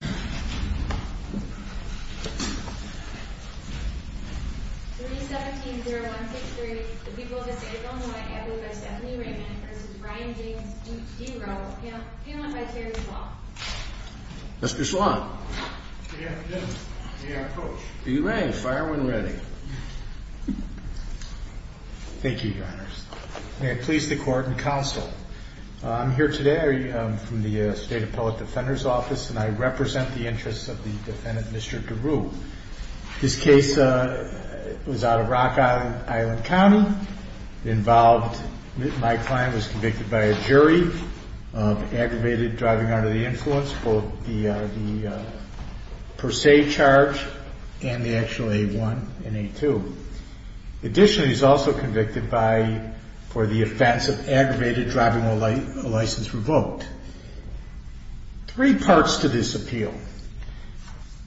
317-0163, the people of the state of Illinois, added by Stephanie Raymond v. Brian James D. Rowell, paneled by Terry Swann. Mr. Swann. Good afternoon. May I approach? You may. Fire when ready. Thank you, your honors. May it please the court and counsel. I'm here today from the State Appellate Defender's Office, and I represent the interests of the defendant, Mr. Deroo. His case was out of Rock Island County. My client was convicted by a jury of aggravated driving under the influence, both the per se charge and the actual A1 and A2. Additionally, he was also convicted for the offense of aggravated driving license revoked. Three parts to this appeal.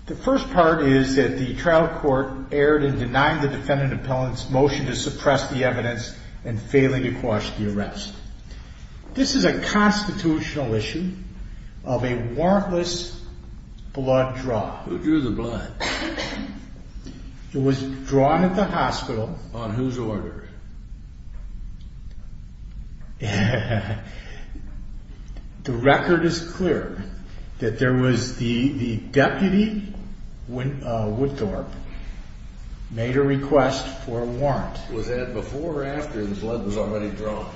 The first part is that the trial court erred in denying the defendant appellant's motion to suppress the evidence and failing to quash the arrest. This is a constitutional issue of a warrantless blood draw. Who drew the blood? It was drawn at the hospital. On whose order? The record is clear that there was the deputy, Woodthorpe, made a request for a warrant. Was that before or after the blood was already drawn?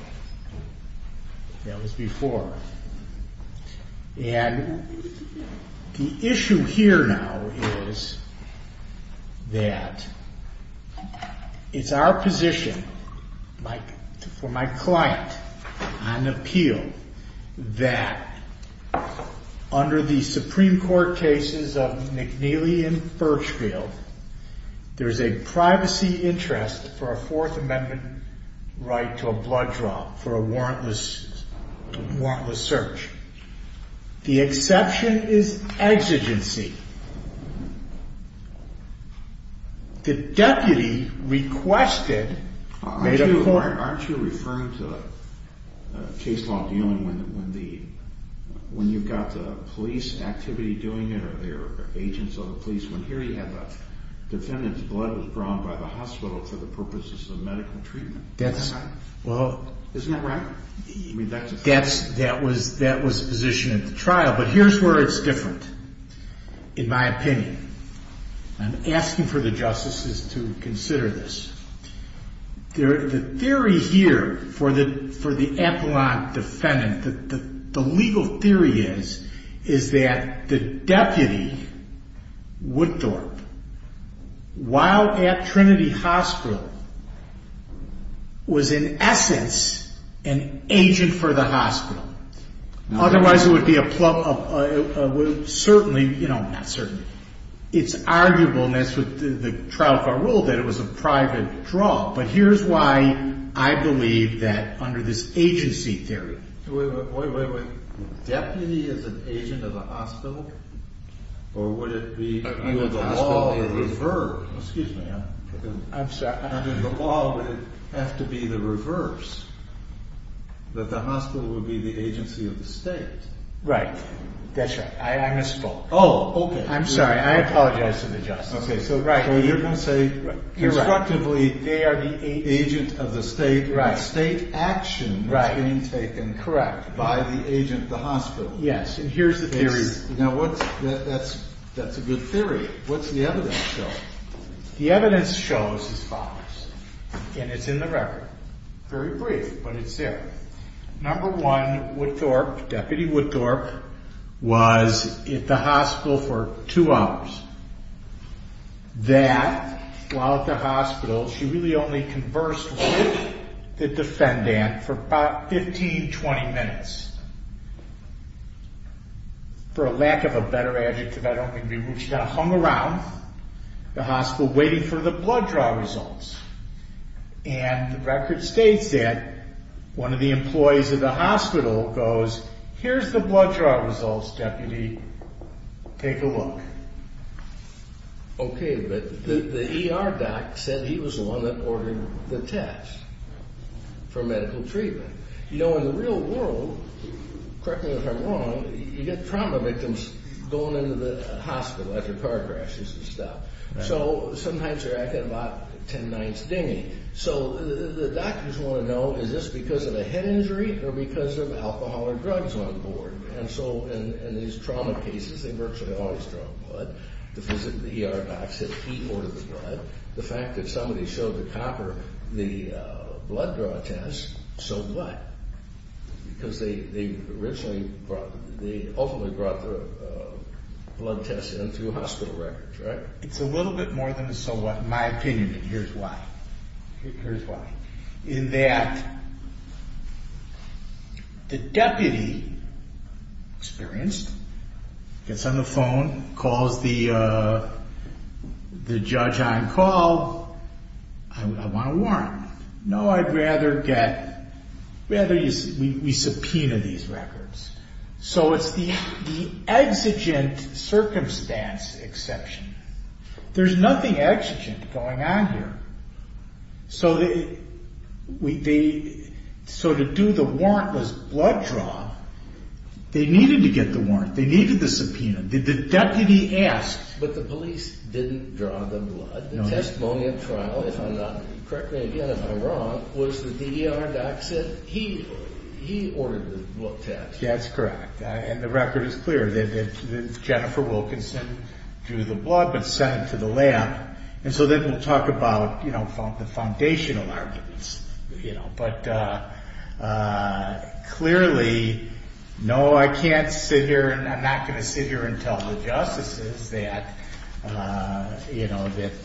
That was before. And the issue here now is that it's our position, for my client on appeal, that under the Supreme Court cases of McNeely and Birchfield, there's a privacy interest for a Fourth Amendment right to a blood draw for a warrantless search. The exception is exigency. The deputy requested... Aren't you referring to case law dealing when you've got the police activity doing it or there are agents of the police? When here you have a defendant's blood was drawn by the hospital for the purposes of medical treatment. Isn't that right? That was the position at the trial. But here's where it's different, in my opinion. I'm asking for the justices to consider this. The theory here for the appellant defendant, the legal theory is, is that the deputy, Woodthorpe, while at Trinity Hospital, was in essence an agent for the hospital. Otherwise it would be a... certainly, you know, not certainly. It's arguable, and that's what the trial far ruled, that it was a private draw. But here's why I believe that under this agency theory... Wait, wait, wait. Deputy is an agent of the hospital? Or would it be... Under the law... Excuse me. I'm sorry. Under the law, would it have to be the reverse, that the hospital would be the agency of the state? Right. That's right. I misspoke. Oh, okay. I'm sorry. I apologize to the justices. Okay, so you're going to say, constructively, they are the agent of the state, and the state action was being taken by the agent of the hospital. Yes, and here's the theory. That's a good theory. What's the evidence show? The evidence shows as follows, and it's in the record. Very brief, but it's there. Number one, Woodthorpe, Deputy Woodthorpe, was at the hospital for two hours. That, while at the hospital, she really only conversed with the defendant for about 15, 20 minutes. For a lack of a better adjective, I don't mean to be rude, she kind of hung around the hospital waiting for the blood draw results. And the record states that one of the employees of the hospital goes, here's the blood draw results, Deputy. Take a look. Okay, but the ER doc said he was the one that ordered the test for medical treatment. You know, in the real world, correct me if I'm wrong, you get trauma victims going into the hospital after car crashes and stuff. So, sometimes they're acting about ten nights dingy. So, the doctors want to know, is this because of a head injury or because of alcohol or drugs on board? And so, in these trauma cases, they virtually always draw blood. The ER doc said he ordered the blood. The fact that somebody showed the copper the blood draw test, so what? Because they ultimately brought the blood tests into hospital records, right? It's a little bit more than a so what, in my opinion, and here's why. In that the deputy, experienced, gets on the phone, calls the judge on call, I want a warrant. No, I'd rather get, we subpoena these records. So, it's the exigent circumstance exception. There's nothing exigent going on here. So, to do the warrantless blood draw, they needed to get the warrant. They needed the subpoena. The deputy asked. But the police didn't draw the blood. No. The testimony at trial, if I'm not, correct me again if I'm wrong, was that the ER doc said he ordered the blood test. Yes, that's correct. And the record is clear that Jennifer Wilkinson drew the blood but sent it to the lab. And so, then we'll talk about the foundational arguments. But clearly, no, I can't sit here and I'm not going to sit here and tell the justices that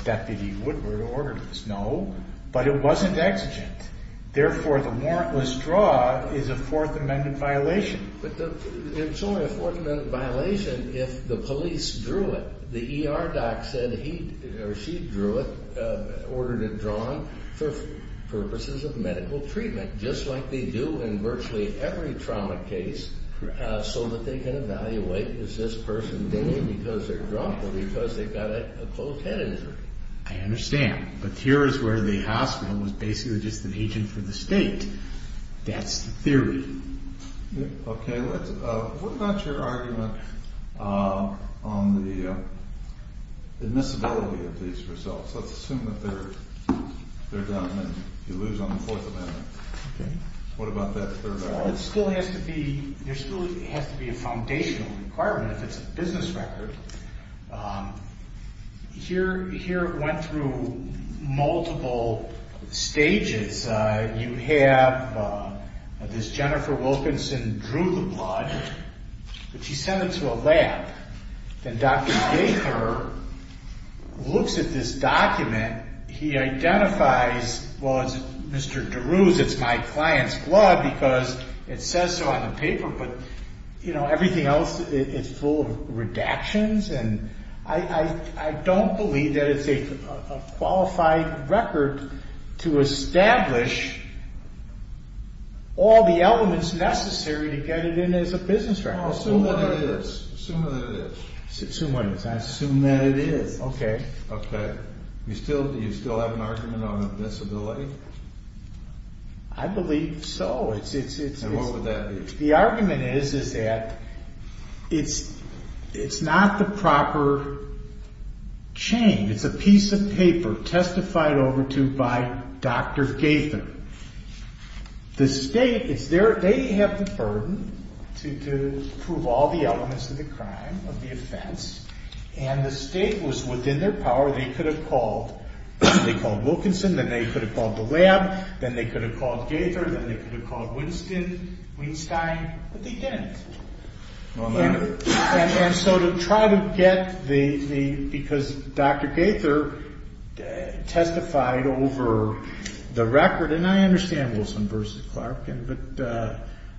Deputy Woodward ordered this. No. But it wasn't exigent. Therefore, the warrantless draw is a Fourth Amendment violation. But it's only a Fourth Amendment violation if the police drew it. The ER doc said he or she drew it, ordered it drawn, for purposes of medical treatment, just like they do in virtually every trauma case so that they can evaluate, is this person dinging because they're drunk or because they've got a closed head injury? I understand. But here is where the hospital was basically just an agent for the state. That's the theory. Okay. What about your argument on the admissibility of these results? Let's assume that they're done and you lose on the Fourth Amendment. Okay. What about that third argument? It still has to be a foundational requirement if it's a business record. Here it went through multiple stages. You have this Jennifer Wilkinson drew the blood, but she sent it to a lab. Then Dr. Baker looks at this document. He identifies, well, it's Mr. DeRue's. It's my client's blood because it says so on the paper. But everything else is full of redactions, and I don't believe that it's a qualified record to establish all the elements necessary to get it in as a business record. Assume that it is. I assume that it is. Okay. Do you still have an argument on admissibility? I believe so. And what would that be? The argument is that it's not the proper chain. It's a piece of paper testified over to by Dr. Gaither. The state, they have the burden to prove all the elements of the crime, of the offense, and the state was within their power. They could have called Wilkinson. Then they could have called the lab. Then they could have called Gaither. Then they could have called Winston, Weinstein, but they didn't. And so to try to get the, because Dr. Gaither testified over the record, and I understand Wilson v. Clark, but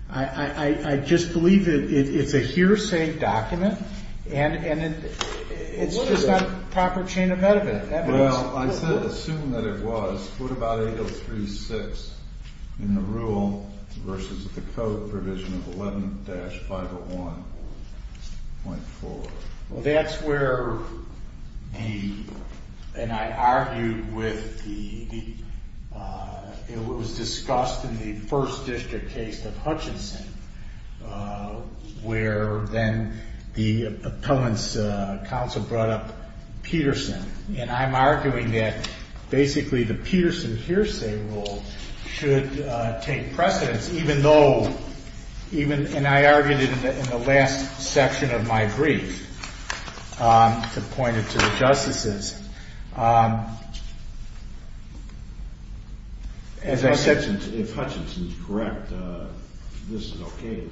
I just believe it's a hearsay document, and it's not the proper chain of evidence. Well, I said assume that it was. What about 803.6 in the rule versus the code provision of 11-501.4? Well, that's where the, and I argued with the, it was discussed in the first district case of Hutchinson where then the appellant's counsel brought up Peterson, and I'm arguing that basically the Peterson hearsay rule should take precedence even though, and I argued it in the last section of my brief to point it to the justices. As I said. If Hutchinson's correct, this is okay, isn't it?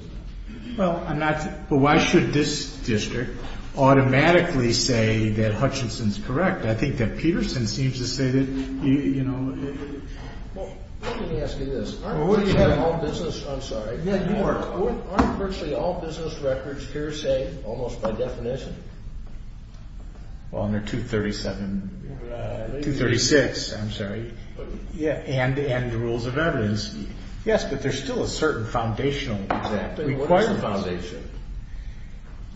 Well, I'm not, but why should this district automatically say that Hutchinson's correct? I think that Peterson seems to say that, you know. Well, let me ask you this. Aren't virtually all business, I'm sorry. Yeah, you are. Aren't virtually all business records hearsay almost by definition? Well, under 237, 236, I'm sorry. And the rules of evidence. Yes, but there's still a certain foundational requirement. What is the foundation?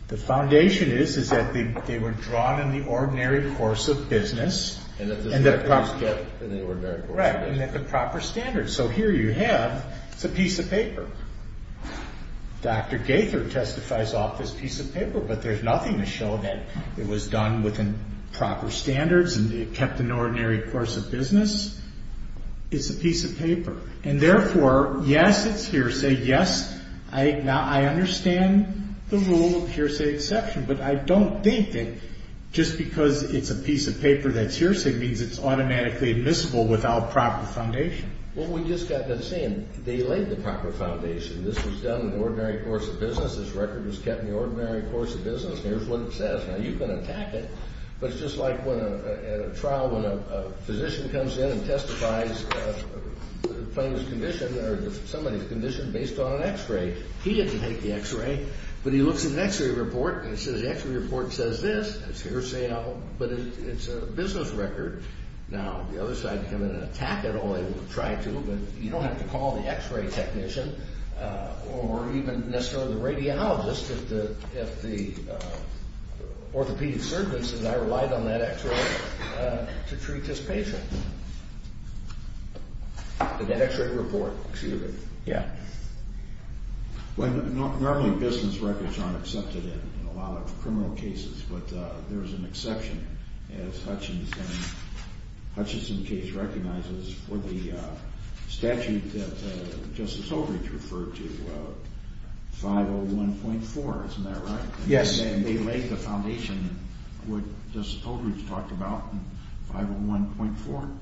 The foundation is that they were drawn in the ordinary course of business. And that the standards fit in the ordinary course of business. Right, and that the proper standards. So here you have, it's a piece of paper. Dr. Gaither testifies off this piece of paper, but there's nothing to show that it was done within proper standards and it kept an ordinary course of business. It's a piece of paper. And therefore, yes, it's hearsay. Yes, I understand the rule of hearsay exception, but I don't think that just because it's a piece of paper that's hearsay means it's automatically admissible without proper foundation. Well, we just got done saying they laid the proper foundation. This was done in the ordinary course of business. This record was kept in the ordinary course of business. And here's what it says. Now, you can attack it, but it's just like when at a trial, when a physician comes in and testifies somebody's condition based on an x-ray. He didn't take the x-ray, but he looks at an x-ray report, and it says the x-ray report says this. It's hearsay, but it's a business record. Now, the other side can come in and attack it, or they will try to, but you don't have to call the x-ray technician or even necessarily the radiologist if the orthopedic surgeon says, I relied on that x-ray to treat this patient. That x-ray report, excuse me. Yeah. Well, normally business records aren't accepted in a lot of criminal cases, but there is an exception, as Hutchison's case recognizes, for the statute that Justice Holdrege referred to, 501.4. Isn't that right? Yes. And they laid the foundation, what Justice Holdrege talked about, in 501.4.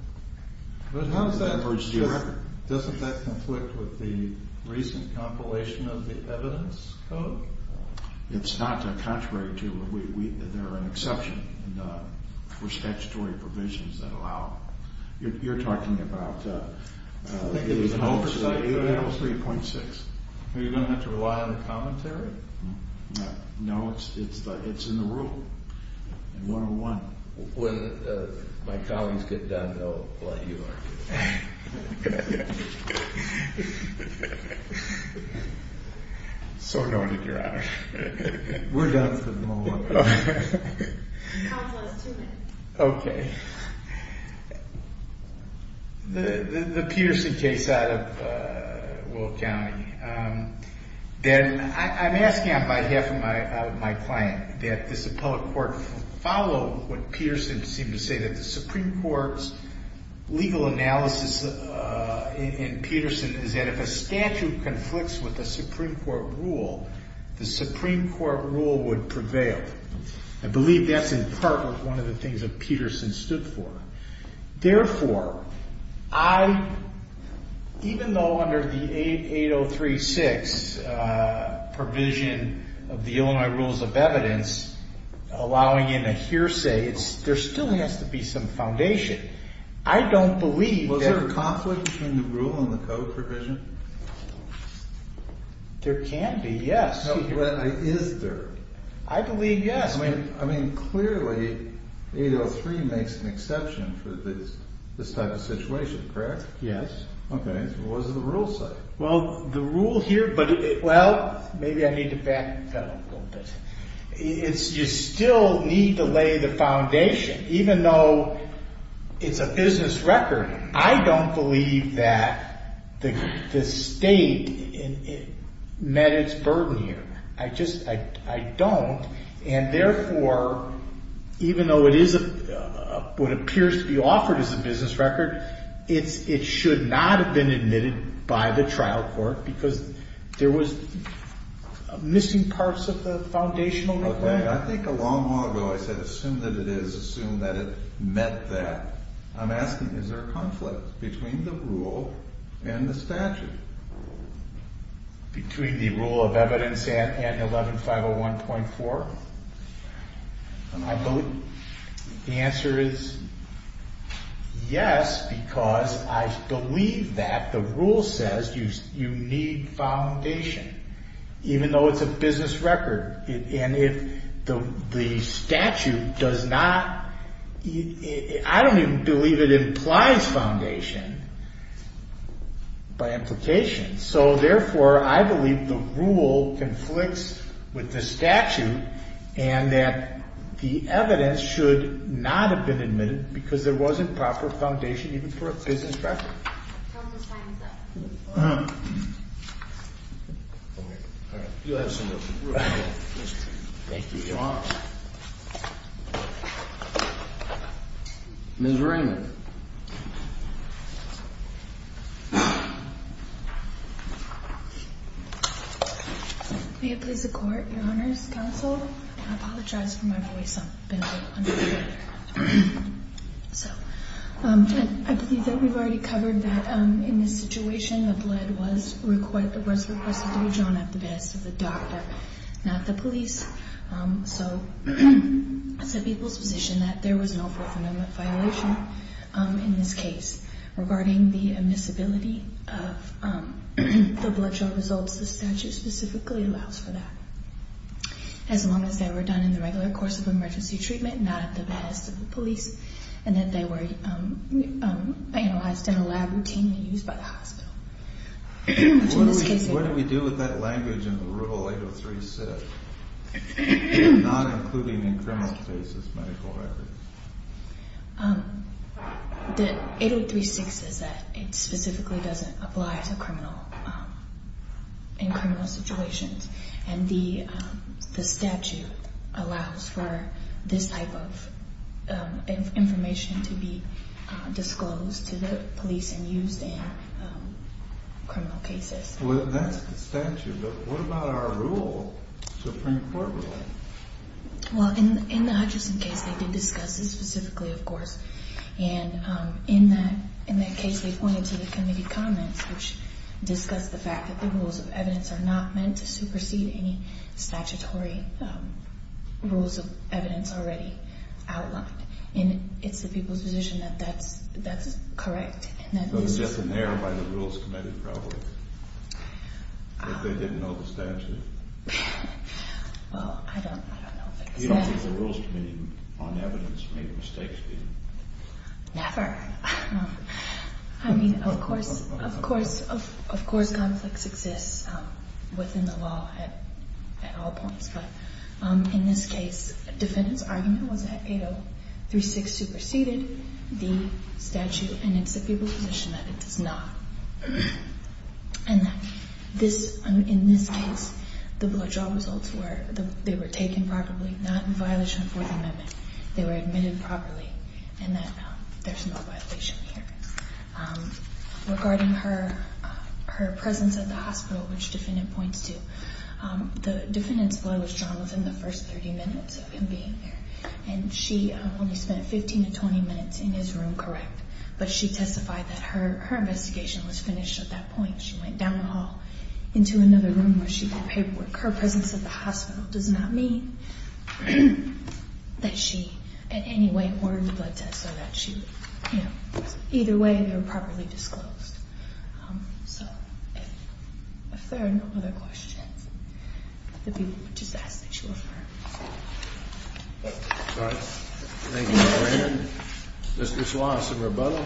But how does that work? Doesn't that conflict with the recent compilation of the evidence code? It's not contrary to it. There are an exception for statutory provisions that allow it. You're talking about 503.6. Are you going to have to rely on the commentary? No, it's in the rule, in 101. When my colleagues get done, they'll let you know. Good. So noted, Your Honor. We're done for the moment. Counsel has two minutes. Okay. The Peterson case out of Will County, then I'm asking on behalf of my client that this appellate court follow what analysis in Peterson is that if a statute conflicts with a Supreme Court rule, the Supreme Court rule would prevail. I believe that's in part one of the things that Peterson stood for. Therefore, even though under the 803.6 provision of the Illinois Rules of Evidence, allowing in a hearsay, there still has to be some foundation. I don't believe that. Was there a conflict between the rule and the code provision? There can be, yes. Is there? I believe yes. I mean, clearly 803 makes an exception for this type of situation, correct? Yes. Okay. What does the rule say? Well, the rule here, but it, well, maybe I need to back that up a little bit. You still need to lay the foundation. Even though it's a business record, I don't believe that the state met its burden here. I just, I don't. And therefore, even though it is what appears to be offered as a business record, it should not have been admitted by the trial court because there was missing parts of the foundational requirement. Okay. I think a long while ago I said assume that it is, assume that it met that. I'm asking, is there a conflict between the rule and the statute? Between the rule of evidence and 11501.4? I believe the answer is yes, because I believe that the rule says you need foundation even though it's a business record. And if the statute does not, I don't even believe it implies foundation by implication. So therefore, I believe the rule conflicts with the statute and that the evidence should not have been admitted because there wasn't proper foundation even for a business record. Counsel, the time is up. All right. You have some room. Thank you, Your Honor. Ms. Raymond. May it please the Court, Your Honors, Counsel, I apologize for my voice, I've been a little uncomfortable. So I believe that we've already covered that in this situation, the blood was requested to be drawn at the behest of the doctor, not the police. So it's the people's position that there was no forthcoming violation in this case. Regarding the admissibility of the blood draw results, the statute specifically allows for that. As long as they were done in the regular course of emergency treatment, not at the behest of the police, and that they were analyzed in a lab routinely used by the hospital. What do we do with that language in the Rule 803-6, not including in criminal cases medical records? The 803-6 says that it specifically doesn't apply to criminal situations. And the statute allows for this type of information to be disclosed to the police and used in criminal cases. Well, that's the statute. But what about our rule, Supreme Court rule? Well, in the Hutchinson case, they did discuss this specifically, of course. And in that case, they pointed to the committee comments, which discussed the fact that the rules of evidence are not meant to supersede any statutory rules of evidence already outlined. And it's the people's position that that's correct. It was just in there by the Rules Committee, probably. But they didn't know the statute. Well, I don't know if it was there. You don't think the Rules Committee on Evidence made mistakes, do you? Never. I mean, of course conflicts exist within the law at all points. But in this case, a defendant's argument was that 803-6 superseded the statute, and it's the people's position that it does not. And in this case, the blood draw results were they were taken properly, not in violation of Fourth Amendment. They were admitted properly, and that there's no violation here. Regarding her presence at the hospital, which the defendant points to, the defendant's blood was drawn within the first 30 minutes of him being there. And she only spent 15 to 20 minutes in his room, correct? But she testified that her investigation was finished at that point. She went down the hall into another room where she got paperwork. Her presence at the hospital does not mean that she in any way ordered the blood test, or that she would, you know. Either way, they were properly disclosed. So if there are no other questions, if the people would just ask that you affirm. All right. Thank you. Mr. Schwartz, some rebuttal.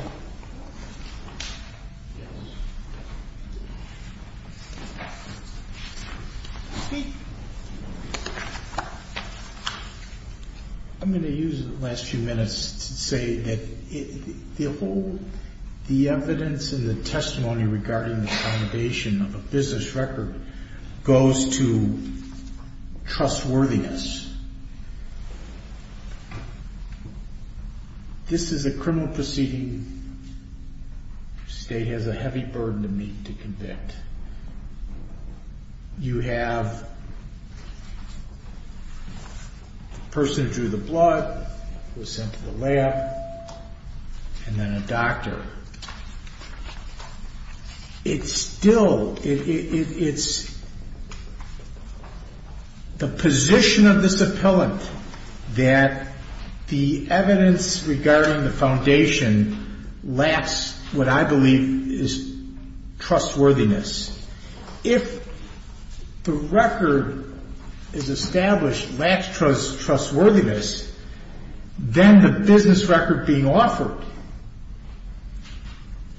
I'm going to use the last few minutes to say that the whole, the evidence and the testimony regarding the accommodation of a business record goes to trustworthiness. This is a criminal proceeding. The state has a heavy burden to meet to convict. You have a person who drew the blood, who was sent to the lab, and then a doctor. It's still, it's the position of this appellant that the evidence regarding the foundation lacks what I believe is trustworthiness. If the record is established lacks trustworthiness, then the business record being offered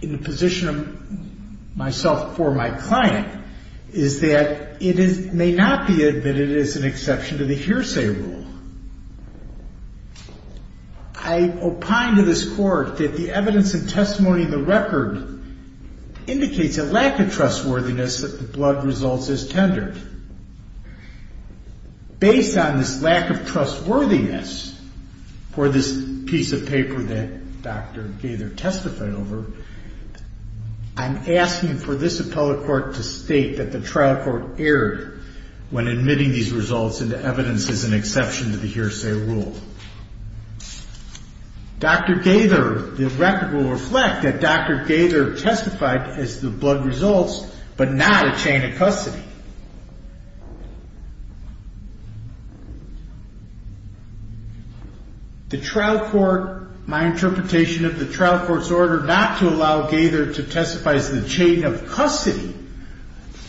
in the position of myself for my client is that it may not be admitted as an exception to the hearsay rule. I opine to this Court that the evidence and testimony in the record indicates a lack of trustworthiness that the blood results is tendered. Based on this lack of trustworthiness for this piece of paper that Dr. Gaither testified over, I'm asking for this appellate court to state that the trial court erred when admitting these results into evidence as an exception to the hearsay rule. Dr. Gaither, the record will reflect that Dr. Gaither testified as the blood results, but not a chain of custody. The trial court, my interpretation of the trial court's order not to allow Gaither to testify as the chain of custody,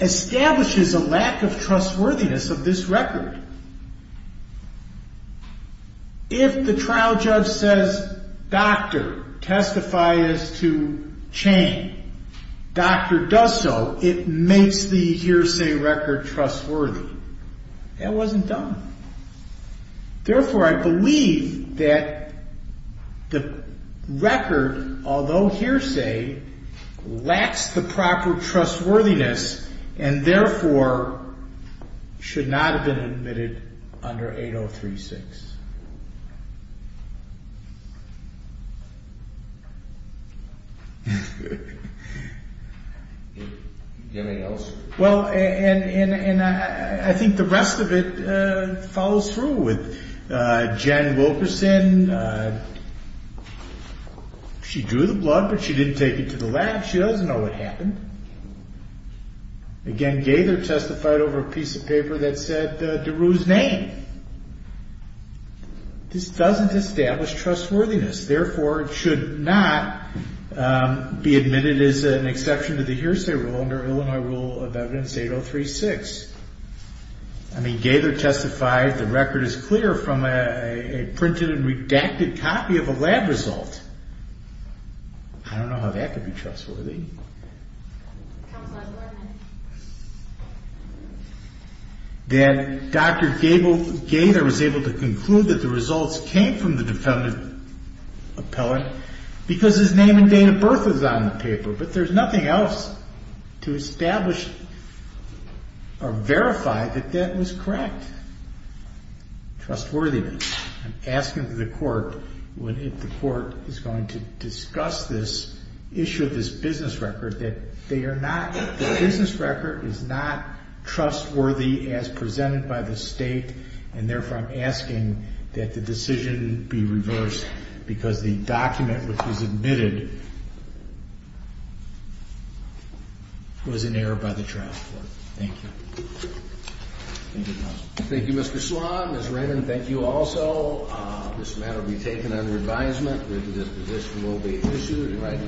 establishes a lack of trustworthiness of this record. If the trial judge says, doctor, testify as to chain, doctor does so, it makes the hearsay record trustworthy. That wasn't done. Therefore, I believe that the record, although hearsay, lacks the proper trustworthiness and therefore should not have been admitted under 8036. Do you have anything else? Well, and I think the rest of it follows through with Jen Wilkerson. Again, she drew the blood, but she didn't take it to the lab. She doesn't know what happened. Again, Gaither testified over a piece of paper that said DeRue's name. This doesn't establish trustworthiness. Therefore, it should not be admitted as an exception to the hearsay rule under Illinois Rule of Evidence 8036. I mean, Gaither testified the record is clear from a printed and redacted copy of a lab result. I don't know how that could be trustworthy. That Dr. Gaither was able to conclude that the results came from the defendant appellant because his name and date of birth was on the paper. But there's nothing else to establish or verify that that was correct. Trustworthiness. I'm asking the court if the court is going to discuss this issue of this business record that the business record is not trustworthy as presented by the state and therefore I'm asking that the decision be reversed because the document which was admitted was in error by the trial court. Thank you. Thank you, counsel. Thank you, Mr. Sloan. Ms. Raymond, thank you also. This matter will be taken under advisement. This position will be pursued.